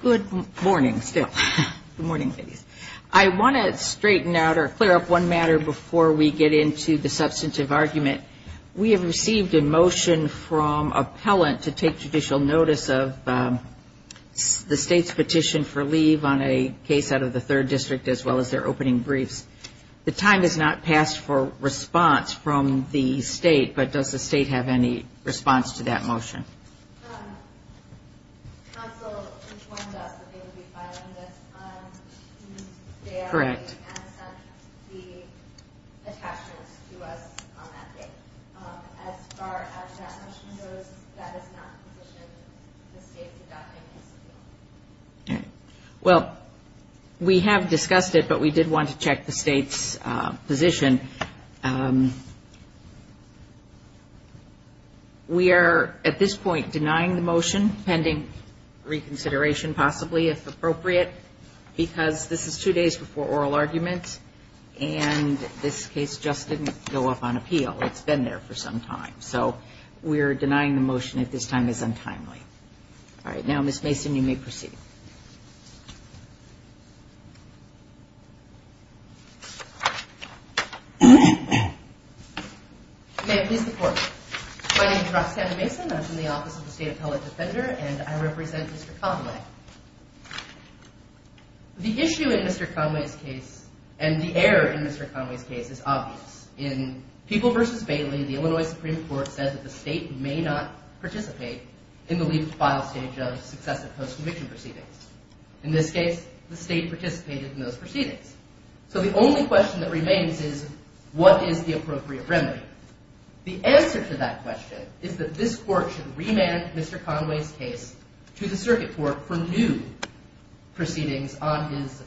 Good morning, still morning. I want to straighten out or clear up one matter before we get into the substantive argument. We have received a motion from appellant to take judicial notice of the state's petition for leave on a case out of the third district as well as their opening briefs. The time has not passed for response from the state, but does the state have any response to that motion? Well, we have discussed it, but we did want to check the state's position. We are at this point denying the motion pending reconsideration possibly, if appropriate, because this is two days before oral arguments and this case just didn't go up on appeal. It's been there for some time. So we're denying the motion at this time is untimely. All right, now Ms. Anna Mason, I'm from the Office of the State Appellate Defender and I represent Mr. Conway. The issue in Mr. Conway's case and the error in Mr. Conway's case is obvious. In People v. Bailey, the Illinois Supreme Court says that the state may not participate in the leave to file stage of successive post-conviction proceedings. In this case, the state participated in those proceedings. So the only question that remains is what is the appropriate remedy? The answer to that question is that this court should remand Mr. Conway's case to the circuit court for new proceedings on his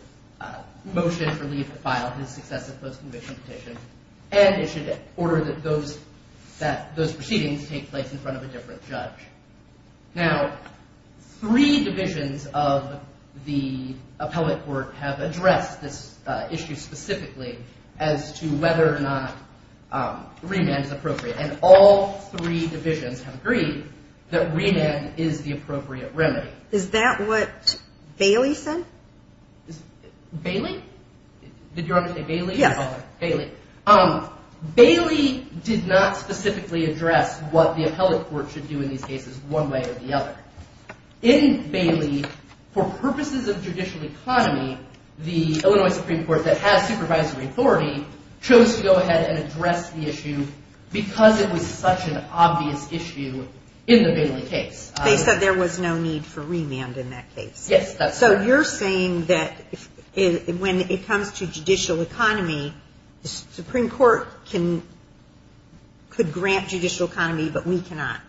motion for leave to file, his successive post-conviction petition, and it should order that those proceedings take place in front of a different judge. Now, three divisions of the appellate court have addressed this issue specifically as to whether or not remand is appropriate, and all three divisions have agreed that remand is the appropriate remedy. Is that what Bailey said? Bailey? Did you want to say Bailey? Yes. Bailey. Bailey did not specifically address what the appellate court should do in these cases one way or the other. In Bailey, for purposes of judicial economy, the Illinois Supreme Court did not go ahead and address the issue because it was such an obvious issue in the Bailey case. They said there was no need for remand in that case. Yes, that's right. So you're saying that when it comes to judicial economy, the Supreme Court can, could grant judicial economy, but we cannot.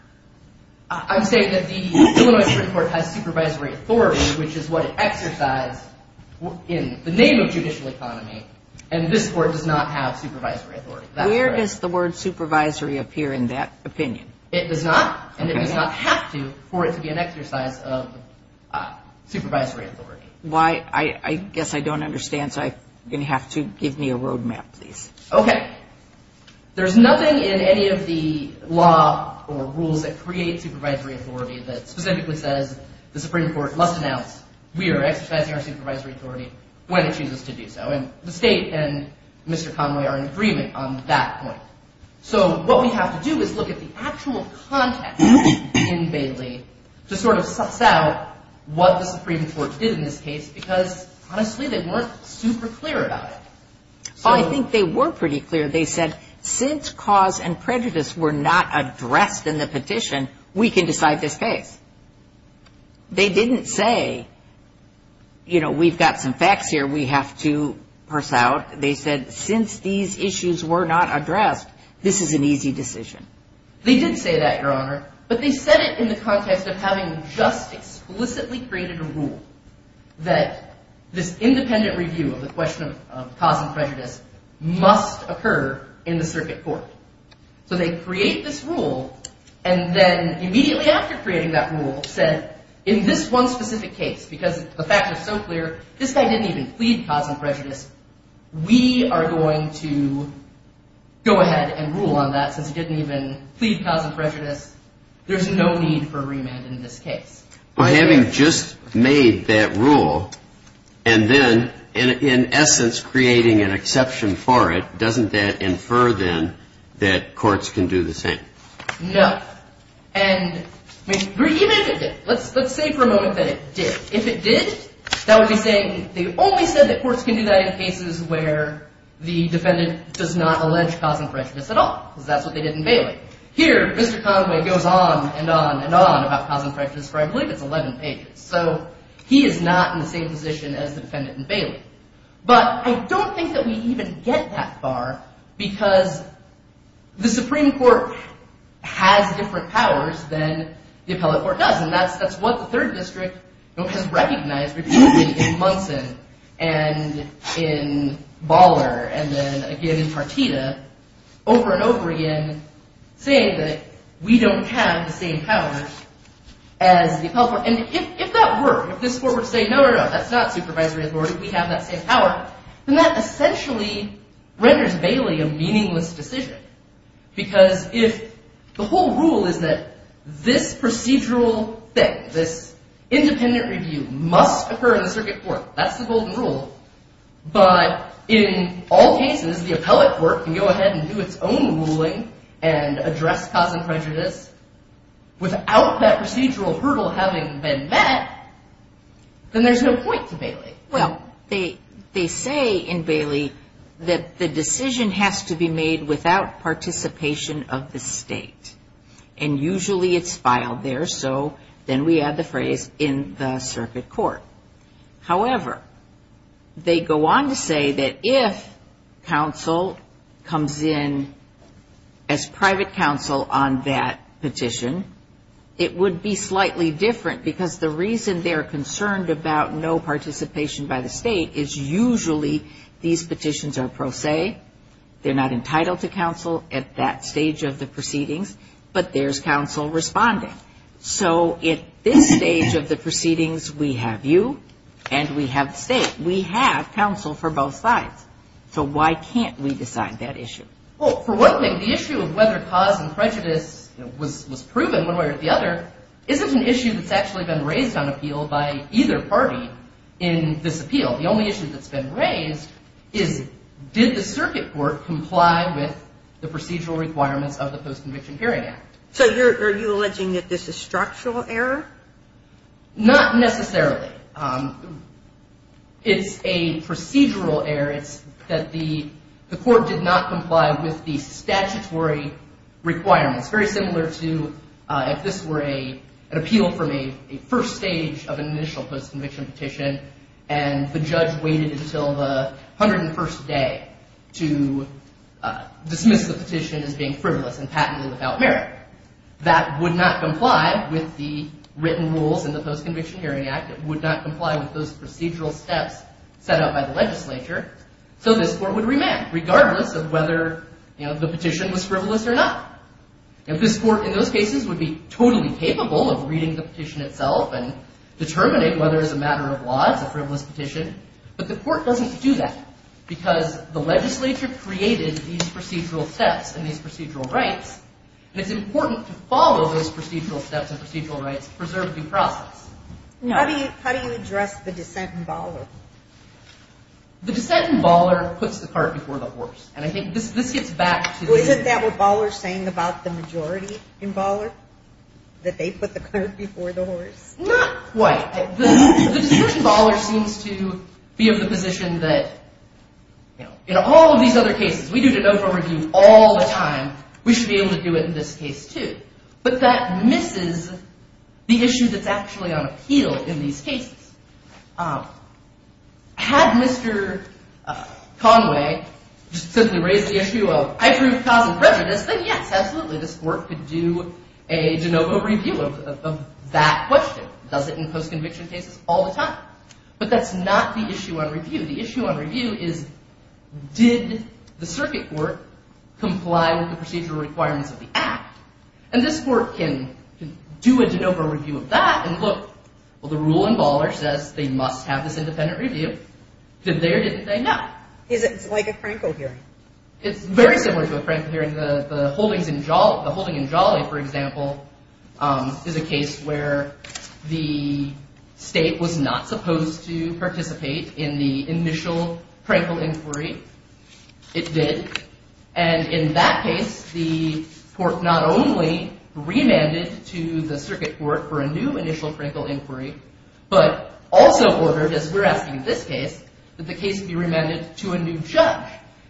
I'm saying that the Illinois Supreme Court has supervisory authority, which is what it exercised in the name of judicial economy, and this court does not have supervisory authority. That's correct. Where does the word supervisory appear in that opinion? It does not, and it does not have to, for it to be an exercise of supervisory authority. Why, I guess I don't understand, so I'm going to have to, give me a road map please. Okay. There's nothing in any of the law or rules that create supervisory authority that specifically says the Supreme Court must announce we are exercising our supervisory authority when it chooses to do so, and the state and Mr. Conway are in agreement on that point. So what we have to do is look at the actual context in Bailey to sort of suss out what the Supreme Court did in this case because honestly they weren't super clear about it. I think they were pretty clear. They said since cause and prejudice were not addressed in the petition, we can decide this case. They didn't say, you know, we've got some facts here we have to parse out. They said since these issues were not addressed, this is an easy decision. They did say that, Your Honor, but they said it in the context of having just explicitly created a rule that this independent review of the question of cause and prejudice must occur in the circuit court. So they create this rule and then immediately after creating that rule said in this one specific case, because the fact is so clear, this guy didn't even plead cause and prejudice, we are going to go ahead and rule on that since he didn't even plead cause and prejudice. There's no need for remand in this case. By having just made that rule and then in essence creating an exception for it, doesn't that infer then that courts can do the same? No. And even if it did, let's say for a moment that it did. If it did, that would be saying they only said that courts can do that in cases where the defendant does not allege cause and prejudice at all because that's what they did in Bailey. Here, Mr. Conway goes on and on and on about cause and prejudice for I believe it's 11 pages. So he is not in the same position as the defendant in Bailey. But I don't think that we even get that far because the Supreme Court has different powers than the appellate court does and that's what the third district has recognized repeatedly in Munson and in Baller and then again in Munson, they don't have the same powers as the appellate court. And if that were, if this court were to say no, no, no, that's not supervisory authority, we have that same power, then that essentially renders Bailey a meaningless decision because if the whole rule is that this procedural thing, this independent review must occur in the circuit court, that's the golden rule, but in all cases the appellate court can go ahead and do its own ruling and without that procedural hurdle having been met, then there's no point to Bailey. Well, they say in Bailey that the decision has to be made without participation of the state and usually it's filed there, so then we add the phrase in the circuit court. However, they go on to say that if counsel comes in as private counsel on that particular case, petition, it would be slightly different because the reason they're concerned about no participation by the state is usually these petitions are pro se, they're not entitled to counsel at that stage of the proceedings, but there's counsel responding. So at this stage of the proceedings, we have you and we have the state. We have counsel for both sides. So why can't we decide that issue? Well, for one thing, the issue of whether cause and prejudice was proven one way or the other isn't an issue that's actually been raised on appeal by either party in this appeal. The only issue that's been raised is did the circuit court comply with the procedural requirements of the Post-Conviction Hearing Act? So are you alleging that this is structural error? Not necessarily. It's a procedural error. It's that the court did not comply with the statutory requirements, very similar to if this were an appeal from a first stage of an initial post-conviction petition and the judge waited until the 101st day to dismiss the petition as being frivolous and patently without merit. That would not comply with the written rules in the Post-Conviction Hearing Act. It would not comply with those procedural steps set out by the legislature. So this court would remand regardless of whether the petition was frivolous or not. Now this court in those cases would be totally capable of reading the petition itself and determining whether it's a matter of law, it's a frivolous petition, but the court doesn't do that because the legislature created these procedural steps and these procedural rights and it's important to follow those procedural steps and procedural rights to preserve due process. How do you address the dissent in Baller? The dissent in Baller puts the cart before the horse. And I think this gets back to the Isn't that what Baller is saying about the majority in Baller? That they put the cart before the horse? Not quite. The dissent in Baller seems to be of the position that in all of these other cases, we do de novo review all the time, we should be able to do it in this case too. But that misses the issue that's actually on appeal in these cases. Had Mr. Conway simply raised the issue of I proved causal prejudice, then yes, absolutely, this court could do a de novo review of that question. Does it in post-conviction cases? All the time. But that's not the issue on review. The issue on review is did the circuit court comply with the procedural requirements of the act? And this court can do a de novo review of that and look, well, the rule in Baller says they must have this independent review. Did they or didn't they? No. Is it like a Franco hearing? It's very similar to a Franco hearing. The holding in Jolly, for example, is a case where the state was not supposed to participate in the initial Franco inquiry. It did. And in that case, the court not only remanded to the circuit court for a new initial Franco inquiry, but also ordered, as we're asking in this case, that the case be remanded to a new judge.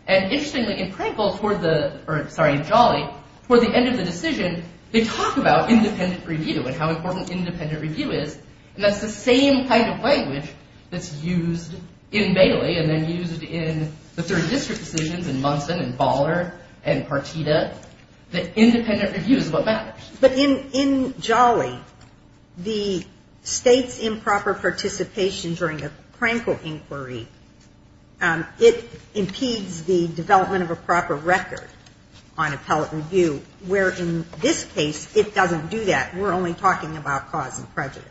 And interestingly, in Jolly, for the end of the decision, they talk about independent review and how important independent review is. And that's the same kind of language that's used in Bailey and then used in the third district decisions in Munson and Baller and Partita. The independent review is what matters. But in Jolly, the state's improper participation during a Franco inquiry, it impedes the development of a proper record on appellate review, where in this case, it doesn't do that. We're only talking about cause and prejudice.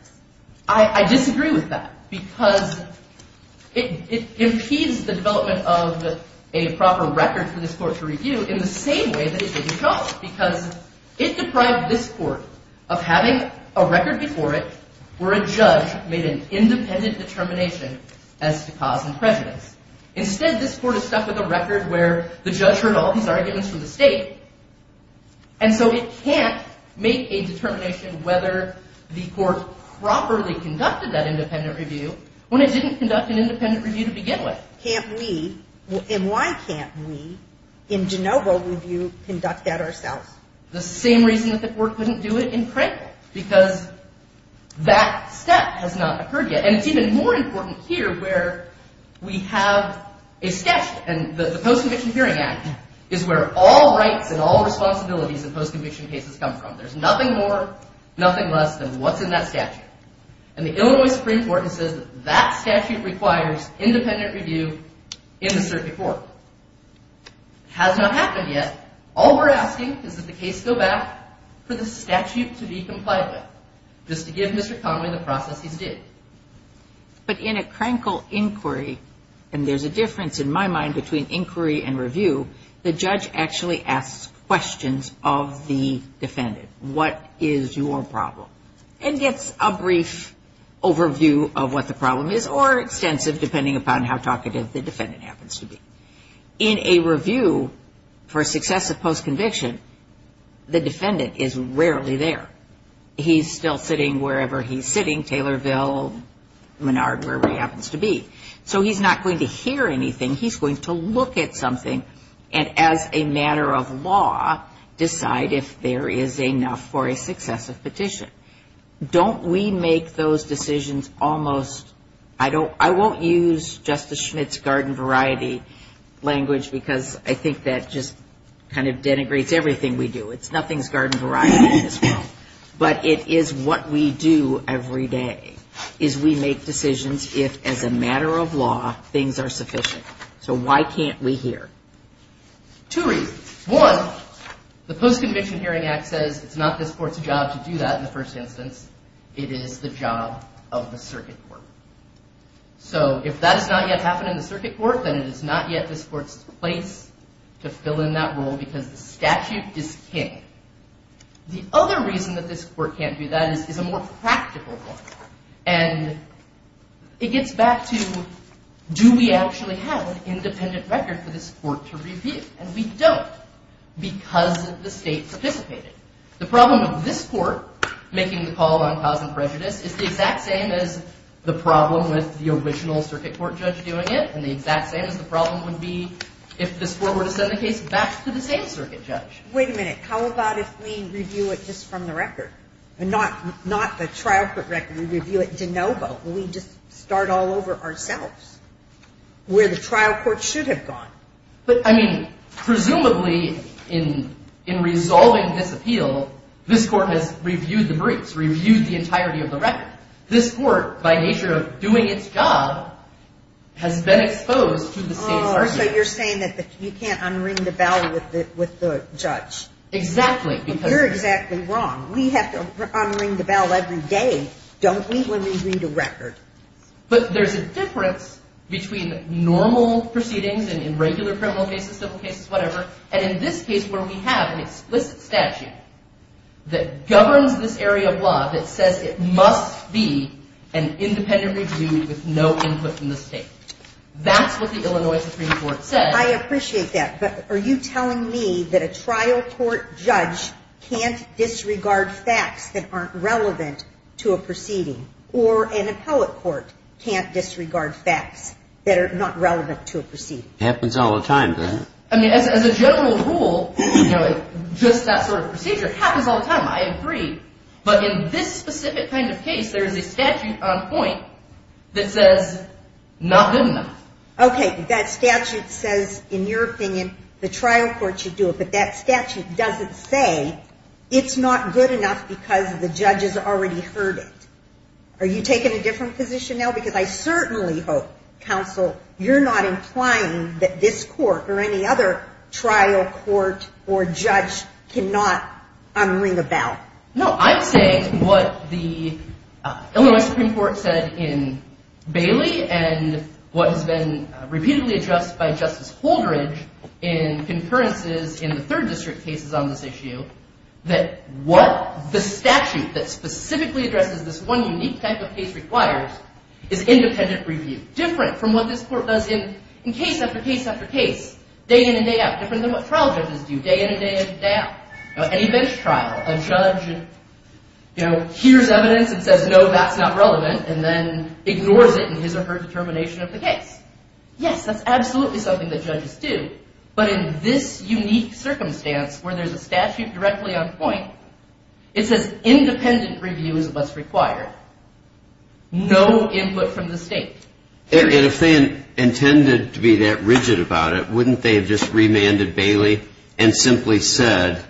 I disagree with that because it impedes the development of a proper record for this court to review in the same way that it did in Jolly because it deprived this court of having a record before it where a judge made an independent determination as to cause and prejudice. Instead, this court is stuck with a record where the judge heard all these arguments from the state. And so it can't make a determination whether the court properly conducted that independent review when it didn't conduct an independent review to begin with. Can't we, and why can't we, in Jenova review conduct that ourselves? The same reason that the court couldn't do it in Franco because that step has not occurred yet. And it's even more important here where we have a statute. And the Post-Conviction Hearing Act is where all rights and all responsibilities in post-conviction cases come from. There's nothing more, nothing less than what's in that statute. And the Illinois Supreme Court has said that that statute requires independent review in the circuit court. It has not happened yet. All we're asking is that the case go back for the statute to be complied with just to give Mr. Conway the process he's due. But in a crankle inquiry, and there's a difference in my mind between inquiry and review, the judge actually asks questions of the defendant. What is your problem? And gets a brief overview of what the problem is or extensive, depending upon how talkative the defendant happens to be. In a review for successive post-conviction, the defendant is rarely there. He's still sitting wherever he's sitting, Taylorville, Menard, wherever he happens to be. So he's not going to hear anything. He's going to look at something and as a matter of law decide if there is enough for a successive petition. Don't we make those decisions almost, I won't use Justice Schmitt's garden variety language because I think that just kind of denigrates everything we do. It's nothing's garden variety in this world. But it is what we do every day is we make decisions if as a matter of law things are sufficient. So why can't we hear? Two reasons. One, the Post-Conviction Hearing Act says it's not this court's job to do that in the first instance. It is the job of the circuit court. So if that has not yet happened in the circuit court, then it is not yet this court's place to fill in that role because the statute is king. The other reason that this court can't do that is a more practical one. And it gets back to do we actually have an independent record for this court to review? And we don't because the state participated. The problem with this court making the call on cause and prejudice is the exact same as the problem with the original circuit court judge doing it and the exact same as the problem would be if this court were to send the case back to the same circuit judge. Wait a minute. How about if we review it just from the record and not the trial court record and review it de novo? Will we just start all over ourselves where the trial court should have gone? But, I mean, presumably in resolving this appeal, this court has reviewed the briefs, reviewed the entirety of the record. This court, by nature of doing its job, has been exposed to the state's argument. Oh, so you're saying that you can't unring the bell with the judge? Exactly. You're exactly wrong. We have to unring the bell every day, don't we, when we read a record? But there's a difference between normal proceedings in regular criminal cases, civil cases, whatever, and in this case where we have an explicit statute that governs this area of law that says it must be an independent review with no input from the state. That's what the Illinois Supreme Court said. I appreciate that, but are you telling me that a trial court judge can't disregard facts that aren't relevant to a proceeding, or an appellate court can't disregard facts that are not relevant to a proceeding? It happens all the time, doesn't it? I mean, as a general rule, just that sort of procedure, it happens all the time. I agree. But in this specific kind of case, there is a statute on point that says, not good enough. Okay, that statute says, in your opinion, the trial court should do it, but that statute doesn't say it's not good enough because the judge has already heard it. Are you taking a different position now? Because I certainly hope, counsel, you're not implying that this court or any other trial court or judge cannot unring a bell. No, I'm saying what the Illinois Supreme Court said in Bailey and what has been repeatedly addressed by Justice Holdridge in concurrences in the third district cases on this issue, that what the statute that specifically addresses this one unique type of case requires is independent review, different from what this court does in case after case after case, day in and day out, different than what trial judges do, day in and day out. Any bench trial, a judge hears evidence and says, no, that's not relevant, and then ignores it in his or her determination of the case. Yes, that's absolutely something that judges do, but in this unique circumstance where there's a statute directly on point, it says independent review is what's required. No input from the state. And if they intended to be that rigid about it, wouldn't they have just remanded Bailey and simply said,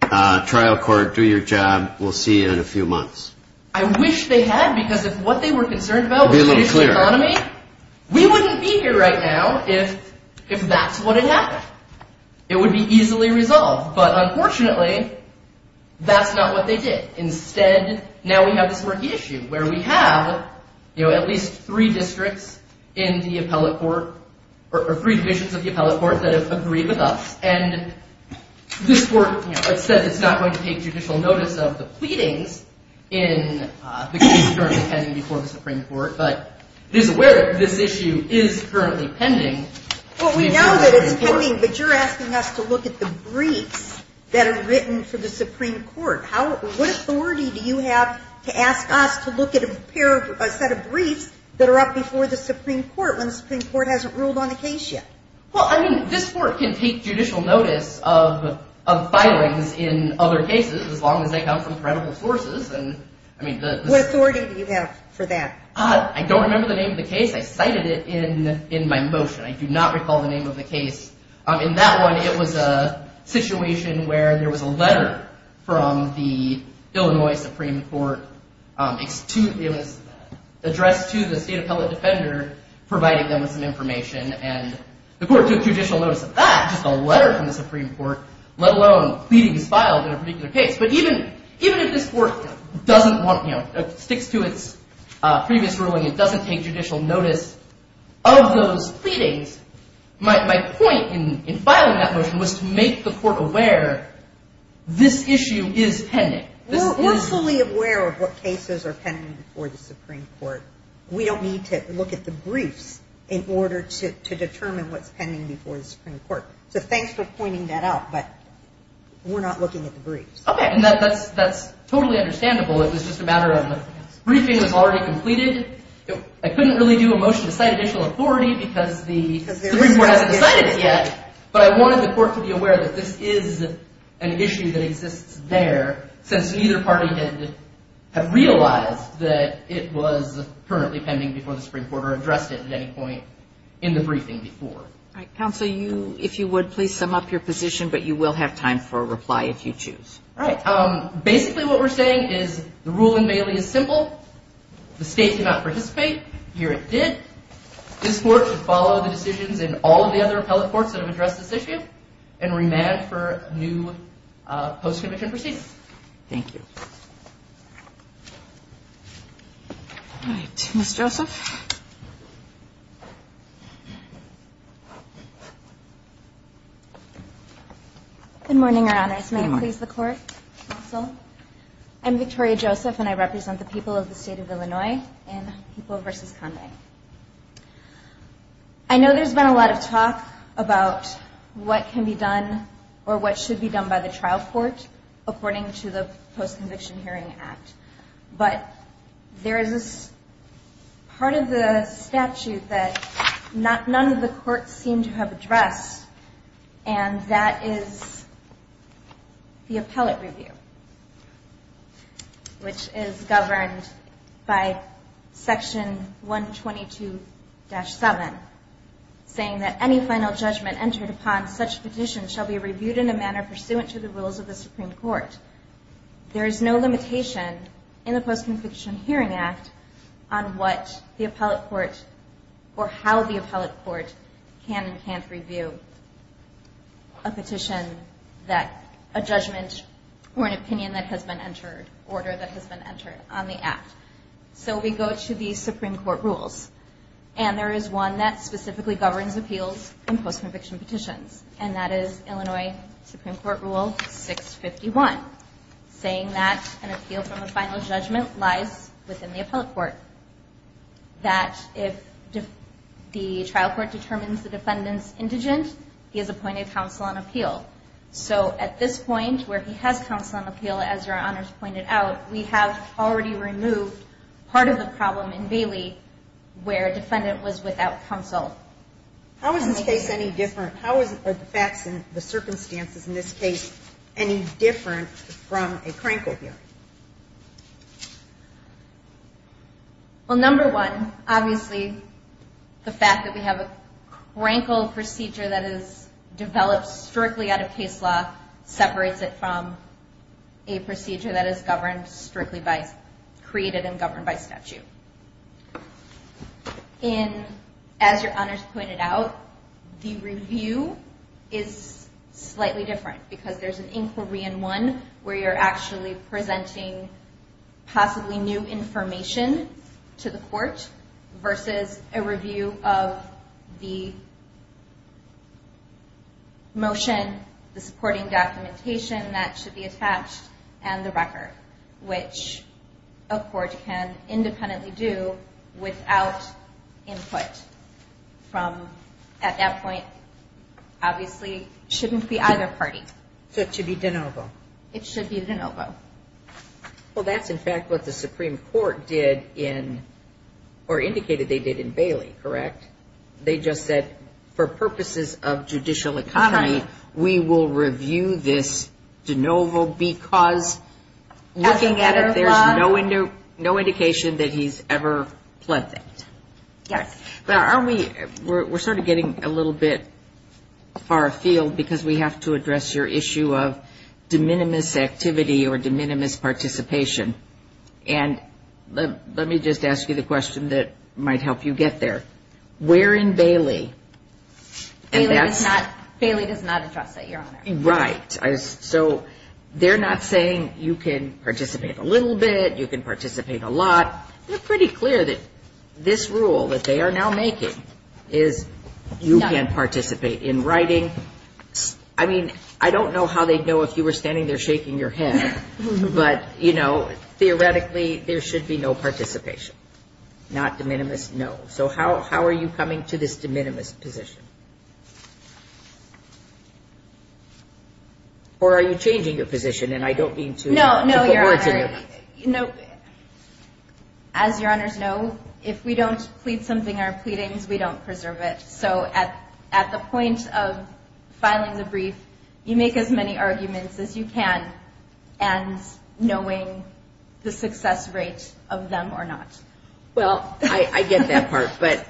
trial court, do your job, we'll see you in a few months? I wish they had, because if what they were concerned about was the economy, we wouldn't be here right now if that's what had happened. It would be easily resolved. But unfortunately, that's not what they did. Instead, now we have this murky issue where we have, you know, at least three districts in the appellate court, or three divisions of the appellate court that have agreed with us, and this court says it's not going to take judicial notice of the pleadings in the case currently pending before the Supreme Court, but is aware this issue is currently pending. Well, we know that it's pending, but you're asking us to look at the briefs that are written for the Supreme Court. What authority do you have to ask us to look at a set of briefs that are up before the Supreme Court when the Supreme Court hasn't ruled on the case yet? Well, I mean, this court can take judicial notice of filings in other cases as long as they come from credible sources. What authority do you have for that? I don't remember the name of the case. I cited it in my motion. I do not recall the name of the case. In that one, it was a situation where there was a letter from the Illinois Supreme Court addressed to the state appellate defender, providing them with some information, and the court took judicial notice of that, just a letter from the Supreme Court, let alone pleadings filed in a particular case. But even if this court sticks to its previous ruling and doesn't take judicial notice of those pleadings, my point in filing that motion was to make the court aware this issue is pending. We're fully aware of what cases are pending before the Supreme Court. We don't need to look at the briefs in order to determine what's pending before the Supreme Court. So thanks for pointing that out, but we're not looking at the briefs. Okay. And that's totally understandable. It was just a matter of briefing was already completed. I couldn't really do a motion to cite additional authority because the Supreme Court hasn't decided it yet, but I wanted the court to be aware that this is an issue that exists there since neither party had realized that it was currently pending before the Supreme Court or addressed it at any point in the briefing before. All right. Counsel, if you would, please sum up your position, but you will have time for a reply if you choose. All right. Basically, what we're saying is the rule in Bailey is simple. The state did not participate. Here it did. This court should follow the decisions in all of the other appellate courts that have addressed this issue and remand for new post-conviction proceedings. Thank you. All right. Ms. Joseph? Good morning, Your Honors. May I please the court? Counsel, I'm Victoria Joseph, and I represent the people of the state of Illinois in People v. Conway. I know there's been a lot of talk about what can be done or what should be done by the trial court according to the Post-Conviction Hearing Act, but there is this part of the statute that none of the courts seem to have addressed, and that is the appellate review, which is governed by Section 122-7, saying that any final judgment entered upon such petition shall be reviewed in a manner pursuant to the rules of the Supreme Court. There is no limitation in the Post-Conviction Hearing Act on what the appellate court or how the appellate court can and can't review a petition that a judgment or an opinion that has been entered, order that has been entered on the act. So we go to the Supreme Court rules, and there is one that specifically governs appeals in post-conviction petitions, and that is Illinois Supreme Court Rule 651, saying that an appeal from a final judgment lies within the appellate court, that if the trial court determines the defendant's indigent, he is appointed counsel on appeal. So at this point, where he has counsel on appeal, as Your Honors pointed out, we have already removed part of the problem in Bailey where a defendant was without counsel. How is this case any different? How are the facts and the circumstances in this case any different from a crank appeal? Well, number one, obviously, the fact that we have a crank appeal procedure that is developed strictly out of case law separates it from a procedure that is governed strictly by, created and governed by statute. And as Your Honors pointed out, the review is slightly different because there's an inquiry in one where you're actually presenting possibly new information to the court versus a review of the motion, the supporting documentation that should be attached, and the record, which a court can independently do without input from, at that point, obviously shouldn't be either party. So it should be de novo? It should be de novo. Well, that's, in fact, what the Supreme Court did in, or indicated they did in Bailey, correct? They just said, for purposes of judicial economy, we will review this de novo because looking at it, there's no indication that he's ever pledged it. Yes. Well, aren't we, we're sort of getting a little bit far afield because we have to address your issue of de minimis activity or de minimis participation. And let me just ask you the question that might help you get there. Where in Bailey? Bailey does not address that, Your Honor. Right. So they're not saying you can participate a little bit, you can participate a lot. They're pretty clear that this rule that they are now making is you can participate in writing. I mean, I don't know how they'd know if you were standing there shaking your head, but, you know, theoretically, there should be no participation, not de minimis, no. So how are you coming to this de minimis position? Or are you changing your position? And I don't mean to put words in your mouth. No, no, Your Honor. As Your Honors know, if we don't plead something in our pleadings, we don't preserve it. So at the point of filing the brief, you make as many arguments as you can, and knowing the success rate of them or not. Well, I get that part, but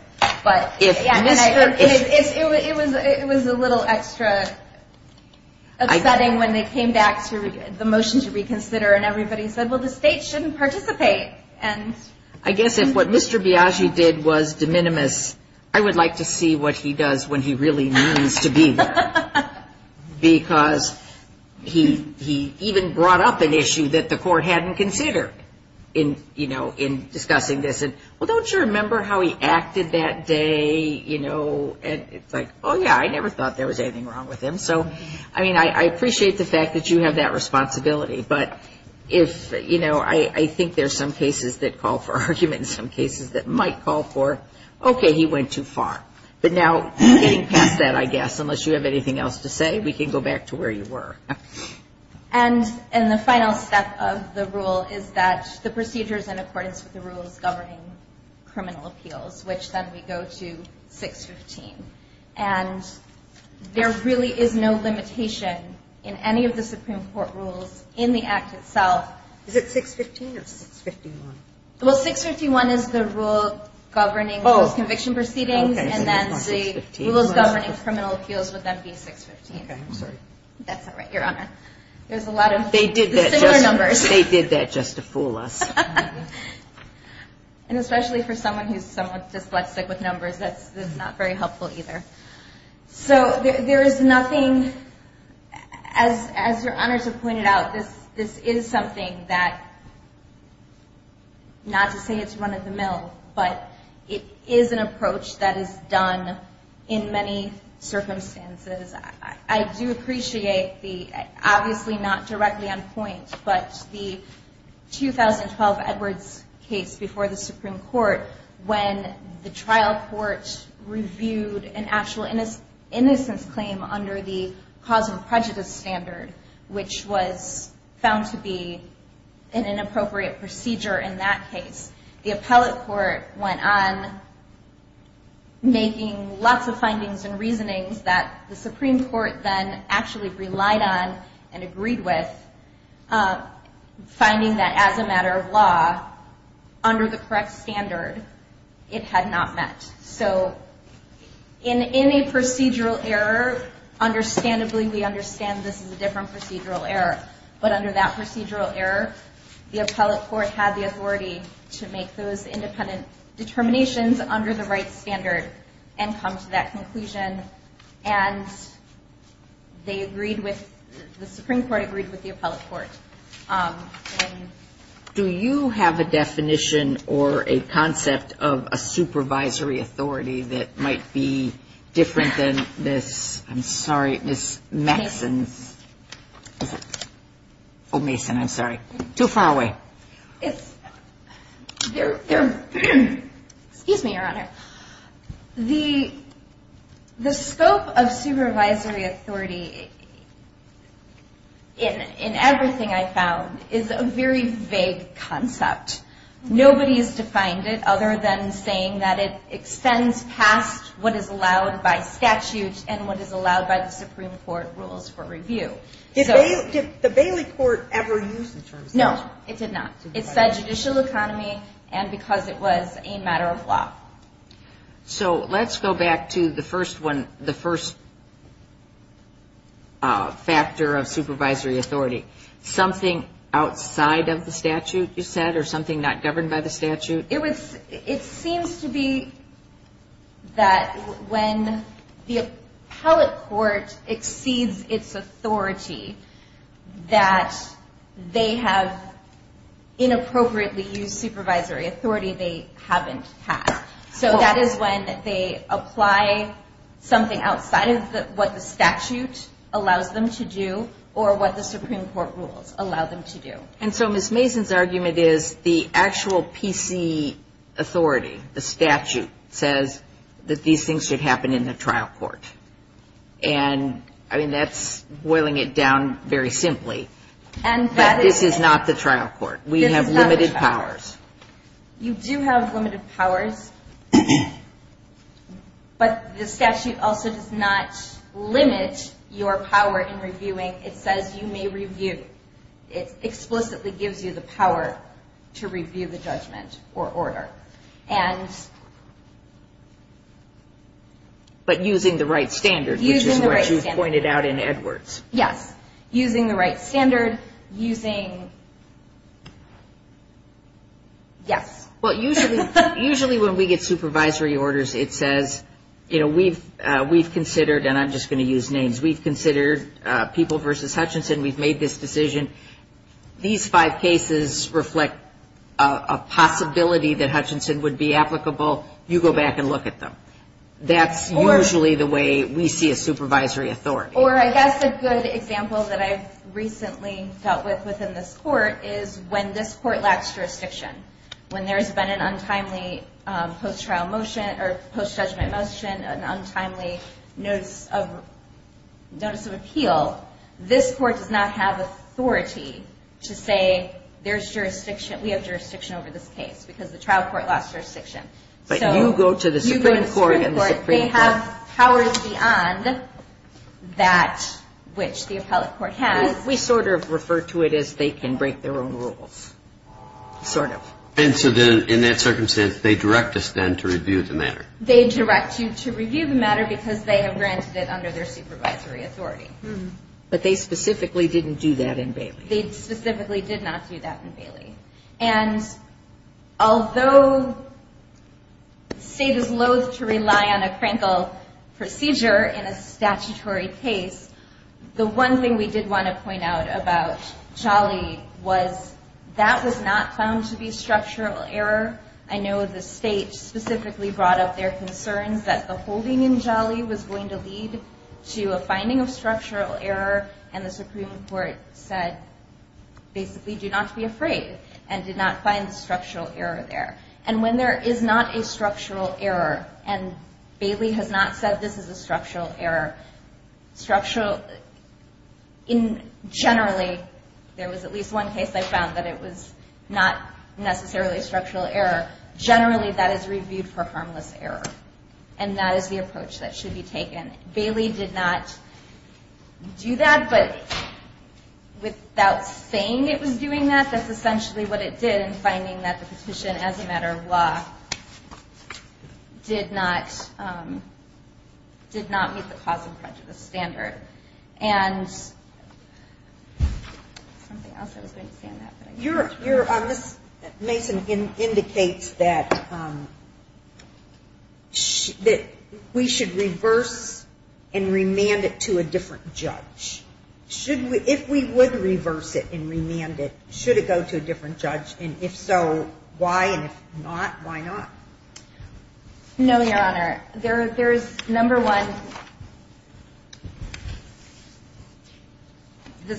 it was a little extra. It was upsetting when they came back to the motion to reconsider and everybody said, well, the state shouldn't participate. I guess if what Mr. Biagi did was de minimis, I would like to see what he does when he really means to be there. Because he even brought up an issue that the court hadn't considered in discussing this. Well, don't you remember how he acted that day? It's like, oh, yeah, I never thought there was anything wrong with him. I mean, I appreciate the fact that you have that responsibility. But I think there's some cases that call for argument and some cases that might call for, okay, he went too far. But now getting past that, I guess, unless you have anything else to say, we can go back to where you were. And the final step of the rule is that the procedure is in accordance with the rules governing criminal appeals, which then we go to 615. And there really is no limitation in any of the Supreme Court rules in the Act itself. Is it 615 or 651? Well, 651 is the rule governing those conviction proceedings, and then the rules governing criminal appeals would then be 615. Okay, I'm sorry. That's all right, Your Honor. There's a lot of similar numbers. They did that just to fool us. And especially for someone who's somewhat dyslexic with numbers, that's not very helpful either. So there is nothing, as Your Honors have pointed out, this is something that, not to say it's run-of-the-mill, but it is an approach that is done in many circumstances. I do appreciate the, obviously not directly on point, but the 2012 Edwards case before the Supreme Court, when the trial court reviewed an actual innocence claim under the cause and prejudice standard, which was found to be an inappropriate procedure in that case. The appellate court went on, making lots of findings and reasonings that the Supreme Court should not have done that. The Supreme Court then actually relied on and agreed with finding that as a matter of law, under the correct standard, it had not met. So in a procedural error, understandably, we understand this is a different procedural error, but under that procedural error, the appellate court had the authority to make those independent determinations under the right standard and come to that conclusion. And they agreed with, the Supreme Court agreed with the appellate court. Do you have a definition or a concept of a supervisory authority that might be different than this, I'm sorry, Ms. Maxon's? Oh, Mason, I'm sorry. Too far away. Excuse me, Your Honor. The scope of supervisory authority in everything I found is a very vague concept. Nobody has defined it other than saying that it extends past what is allowed by statute and what is allowed by the Supreme Court rules for review. Did the Bailey court ever use the term? No, it did not. It said judicial economy and because it was a matter of law. So let's go back to the first one, the first factor of supervisory authority. Something outside of the statute, you said, or something not governed by the statute? It would, it seems to be that when the appellate court exceeds its authority, that they have inappropriately used supervisory authority they haven't had. So that is when they apply something outside of what the statute allows them to do or what the Supreme Court rules allow them to do. And so Ms. Mason's argument is the actual PC authority, the statute, says that these things should happen in the trial court. And I mean, that's boiling it down very simply. But this is not the trial court. We have limited powers. You do have limited powers, but the statute also does not limit your power in reviewing. It says you may review. It explicitly gives you the power to review the judgment or order. But using the right standard, which is what you pointed out in Edwards. Yes. Using the right standard, using, yes. Well, usually when we get supervisory orders, it says, you know, we've considered, and I'm just going to use names, we've considered people versus Hutchinson, we've made this decision. These five cases reflect a possibility that Hutchinson would be applicable. You go back and look at them. That's usually the way we see a supervisory authority. Or I guess a good example that I've recently dealt with within this court is when this court lacks jurisdiction. When there's been an untimely post-trial motion or post-judgment motion, an untimely notice of appeal, this court does not have authority to say there's jurisdiction, we have jurisdiction over this case, because the trial court lost jurisdiction. But you go to the Supreme Court and the Supreme Court. They have powers beyond that which the appellate court has. We sort of refer to it as they can break their own rules, sort of. And so then in that circumstance, they direct us then to review the matter. They direct you to review the matter because they have granted it under their supervisory authority. But they specifically didn't do that in Bailey. They specifically did not do that in Bailey. And although the state is loathe to rely on a crankle procedure in a statutory case, the one thing we did want to point out about Jolly was that was not found to be structural error. I know the state specifically brought up their concerns that the holding in Jolly was going to lead to a finding of structural error. And the Supreme Court said basically do not be afraid and did not find the structural error there. And when there is not a structural error, and Bailey has not said this is a structural error, in generally, there was at least one case I found that it was not necessarily a structural error, generally that is reviewed for harmless error. And that is the approach that should be taken. Bailey did not do that, but without saying it was doing that, that's essentially what it did in finding that the petition as a matter of law did not meet the causal criteria. It did not meet the causal prejudice standard. And something else I was going to say on that. This, Mason, indicates that we should reverse and remand it to a different judge. If we would reverse it and remand it, should it go to a different judge? And if so, why? And if not, why not? No, Your Honor, there is, number one, the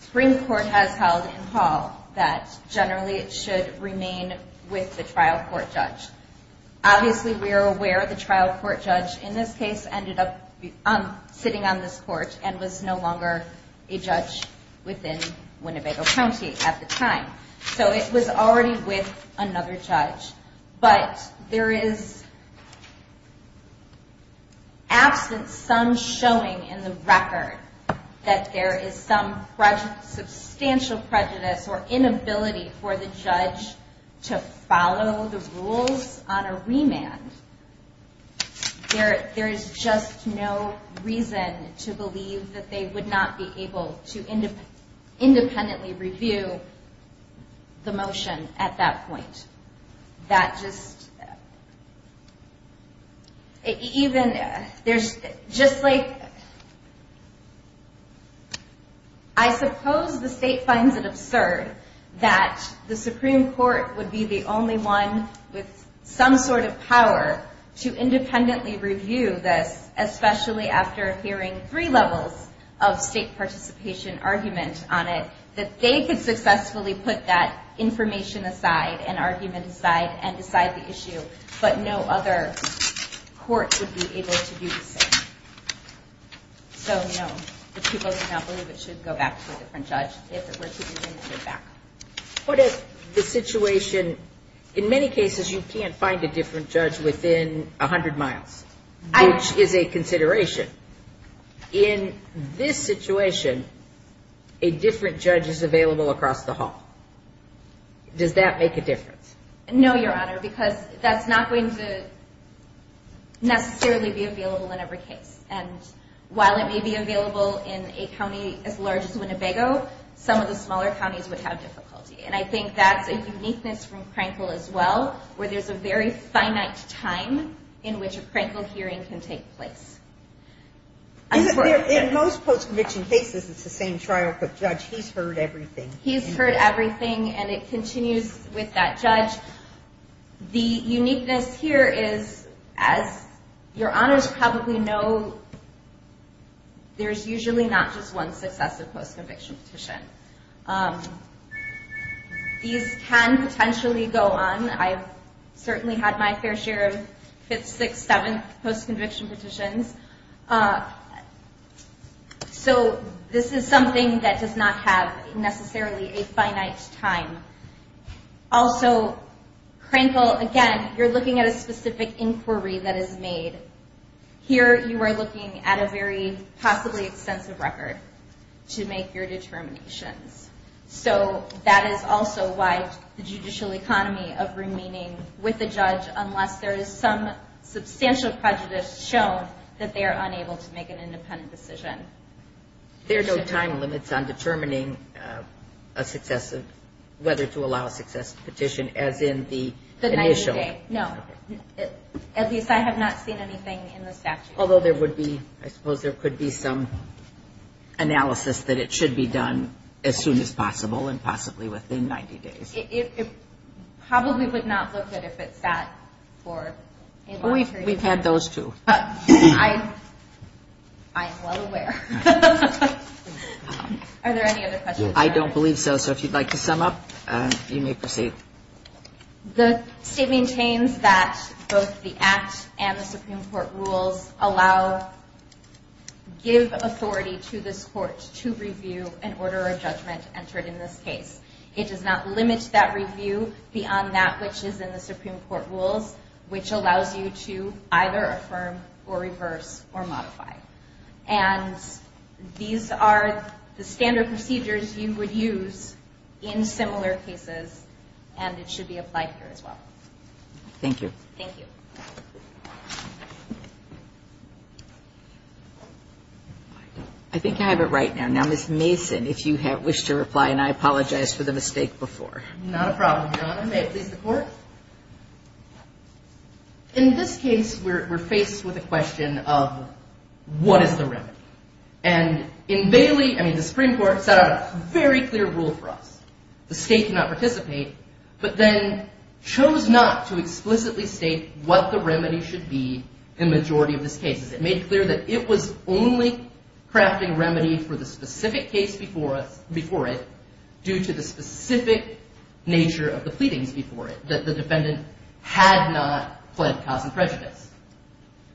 Supreme Court has held in Hall that generally it should remain with the trial court judge. Obviously we are aware the trial court judge in this case ended up sitting on this court and was no longer a judge within Winnebago County at the time. So it was already with another judge. But there is absence, some showing in the record that there is some substantial prejudice or inability for the judge to follow the rules on a remand. There is just no reason to believe that they would not be able to independently review the motion at that point. I suppose the state finds it absurd that the Supreme Court would be the only one with some sort of power to independently review this, especially after hearing three levels of state participation argument on it, that they could successfully put that information aside and argument aside and decide the issue, but no other court would be able to do the same. So no, the people do not believe it should go back to a different judge. What if the situation, in many cases you can't find a different judge within 100 miles, which is a consideration. In this situation, a different judge is available across the hall. Does that make a difference? No, Your Honor, because that's not going to necessarily be available in every case. And while it may be available in a county as large as Winnebago, some of the smaller counties would have difficulty. And I think that's a uniqueness from Crankle as well, where there's a very finite time in which a Crankle hearing can take place. In most post-conviction cases, it's the same trial, but Judge, he's heard everything. He's heard everything, and it continues with that judge. The uniqueness here is, as Your Honors probably know, there's usually not just one successive post-conviction petition. These can potentially go on. I've certainly had my fair share of fifth, sixth, seventh post-conviction petitions. So this is something that does not have necessarily a finite time. Also, Crankle, again, you're looking at a specific inquiry that is made. Here you are looking at a very possibly extensive record to make your determinations. So that is also why the judicial economy of remaining with the judge, unless there is some substantial prejudice shown, that they are unable to make an independent decision. There are no time limits on determining whether to allow a successive petition, as in the initial. No, at least I have not seen anything in the statute. Although there would be, I suppose there could be some analysis that it should be done as soon as possible, and possibly within 90 days. It probably would not look good if it sat for a long period. We've had those two. I'm well aware. Are there any other questions? I don't believe so, so if you'd like to sum up, you may proceed. The state maintains that both the Act and the Supreme Court rules give authority to this court to review an order or judgment entered in this case. It does not limit that review beyond that which is in the Supreme Court rules, which allows you to either affirm or reverse or modify. These are the standard procedures you would use in similar cases, and it should be applied here as well. Thank you. I think I have it right now. Now, Ms. Mason, if you wish to reply, and I apologize for the mistake before. Not a problem, Your Honor. May it please the Court? In this case, we're faced with a question of what is the remedy? And in Bailey, I mean, the Supreme Court set out a very clear rule for us. The state did not participate, but then chose not to explicitly state what the remedy should be in the majority of these cases. It made clear that it was only crafting a remedy for the specific case before it due to the specific nature of the pleadings before it, that the defendant had not pled cause and prejudice.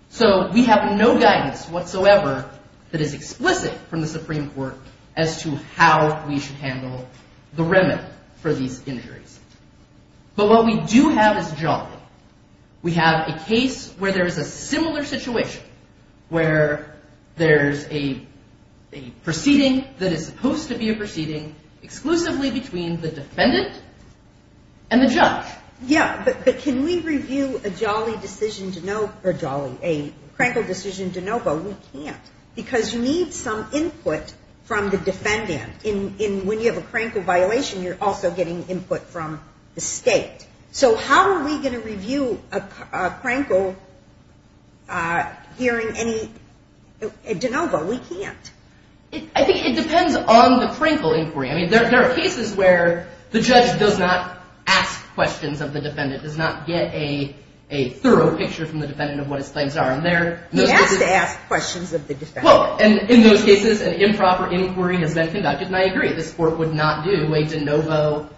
So we have no guidance whatsoever that is explicit from the Supreme Court as to how we should handle the remedy for these injuries. But what we do have is jolly. We have a case where there is a similar situation, where there's a proceeding that is supposed to be a proceeding exclusively between the defendant and the judge. Yeah, but can we review a jolly decision to know, or jolly, a crankled decision to know, but we can't, because you need some input from the defendant. When you have a crankle violation, you're also getting input from the state. So how are we going to review a crankle hearing any de novo? We can't. I think it depends on the crankle inquiry. I mean, there are cases where the judge does not ask questions of the defendant, does not get a thorough picture from the defendant of what his claims are. He has to ask questions of the defendant. And in those cases, an improper inquiry has been conducted, and I agree. This Court would not do a de novo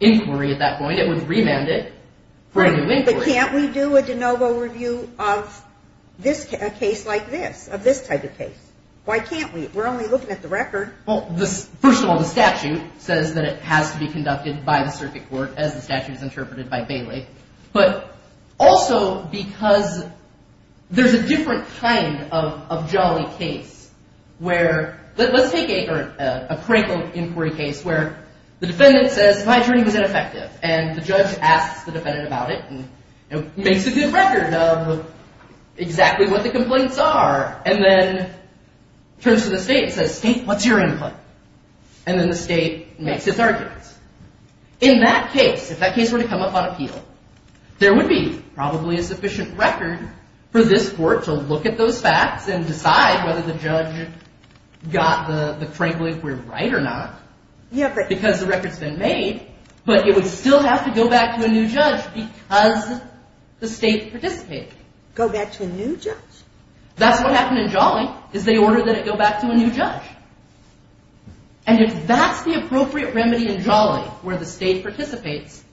inquiry at that point. But can't we do a de novo review of a case like this, of this type of case? Why can't we? We're only looking at the record. First of all, the statute says that it has to be conducted by the circuit court, as the statute is interpreted by Bailey. But also because there's a different kind of jolly case where let's take a crankle inquiry case where the defendant says, my hearing is ineffective, and the judge asks the defendant about it and makes a good record of exactly what the complaints are, and then turns to the state and says, state, what's your input? And then the state makes its arguments. In that case, if that case were to come up on appeal, there would be probably a sufficient record for this Court to look at those facts and decide whether the judge got the crankle inquiry right or not, because the record's been made, but it would still have to go back to a new judge because the state participated. Go back to a new judge? That's what happened in Jolly, is they ordered that it go back to a new judge. And if that's the appropriate remedy in Jolly, where the state participates,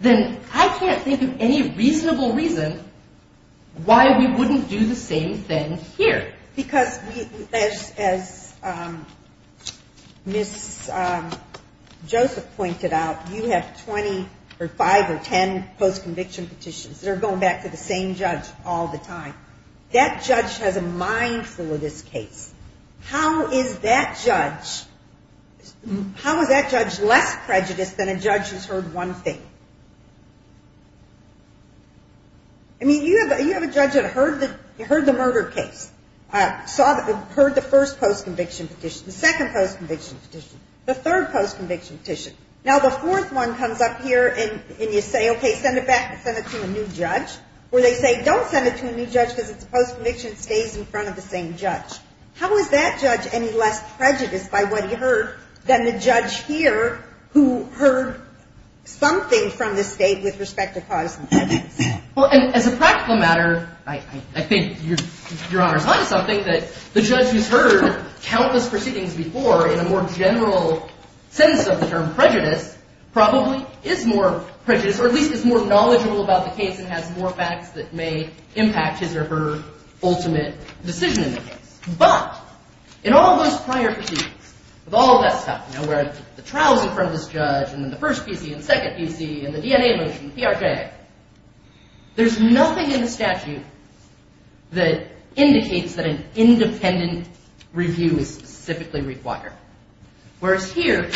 then I can't think of any reasonable reason why we wouldn't do the same thing here. Because as Ms. Joseph pointed out, you have 20 or 5 or 10 post-conviction petitions that are going back to the same judge all the time. That judge has a mindful of this case. How is that judge less prejudiced than a judge who's heard one thing? I mean, you have a judge that heard the murder case, heard the first post-conviction petition, the second post-conviction petition, the third post-conviction petition. Now, the fourth one comes up here and you say, okay, send it back, send it to a new judge, or they say don't send it to a new judge because it's a post-conviction, it stays in front of the same judge. How is that judge any less prejudiced by what he heard than the judge here who heard something from the state with respect to cause and prejudice? Well, and as a practical matter, I think Your Honor's on to something, that the judge who's heard countless proceedings before in a more general sense of the term prejudice probably is more prejudiced, or at least is more knowledgeable about the case and has more facts that may impact his or her ultimate decision in the case. But, in all those prior proceedings, with all that stuff, you know, where the trial's in front of this judge, and then the first PC, and the second PC, and the DNA motion, the PRK, there's nothing in the statute that indicates that an independent review is specifically required. Whereas here,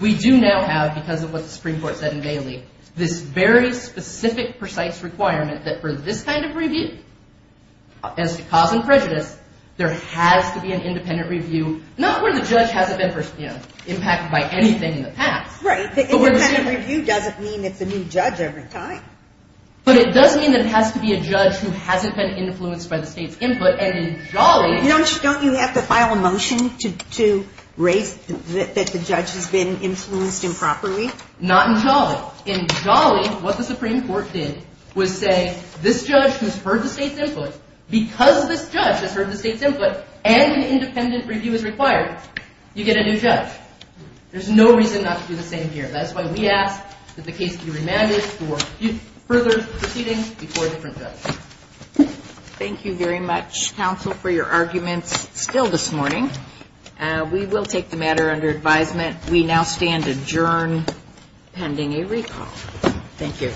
we do now have, because of what the Supreme Court said in Bailey, this very specific, precise requirement that for this kind of review, as to cause and prejudice, there has to be an independent review, not where the judge hasn't been impacted by anything in the past. Right, the independent review doesn't mean it's a new judge every time. But it does mean that it has to be a judge who hasn't been influenced by the state's input, and in Jolly... Don't you have to file a motion to raise that the judge has been influenced improperly? Not in Jolly. In Jolly, what the Supreme Court did was say, this judge has heard the state's input. Because this judge has heard the state's input, and an independent review is required, you get a new judge. There's no reason not to do the same here. That's why we ask that the case be remanded for further proceedings before a different judge. Thank you very much, counsel, for your arguments still this morning. We will take the matter under advisement. We now stand adjourned pending a recall. Thank you.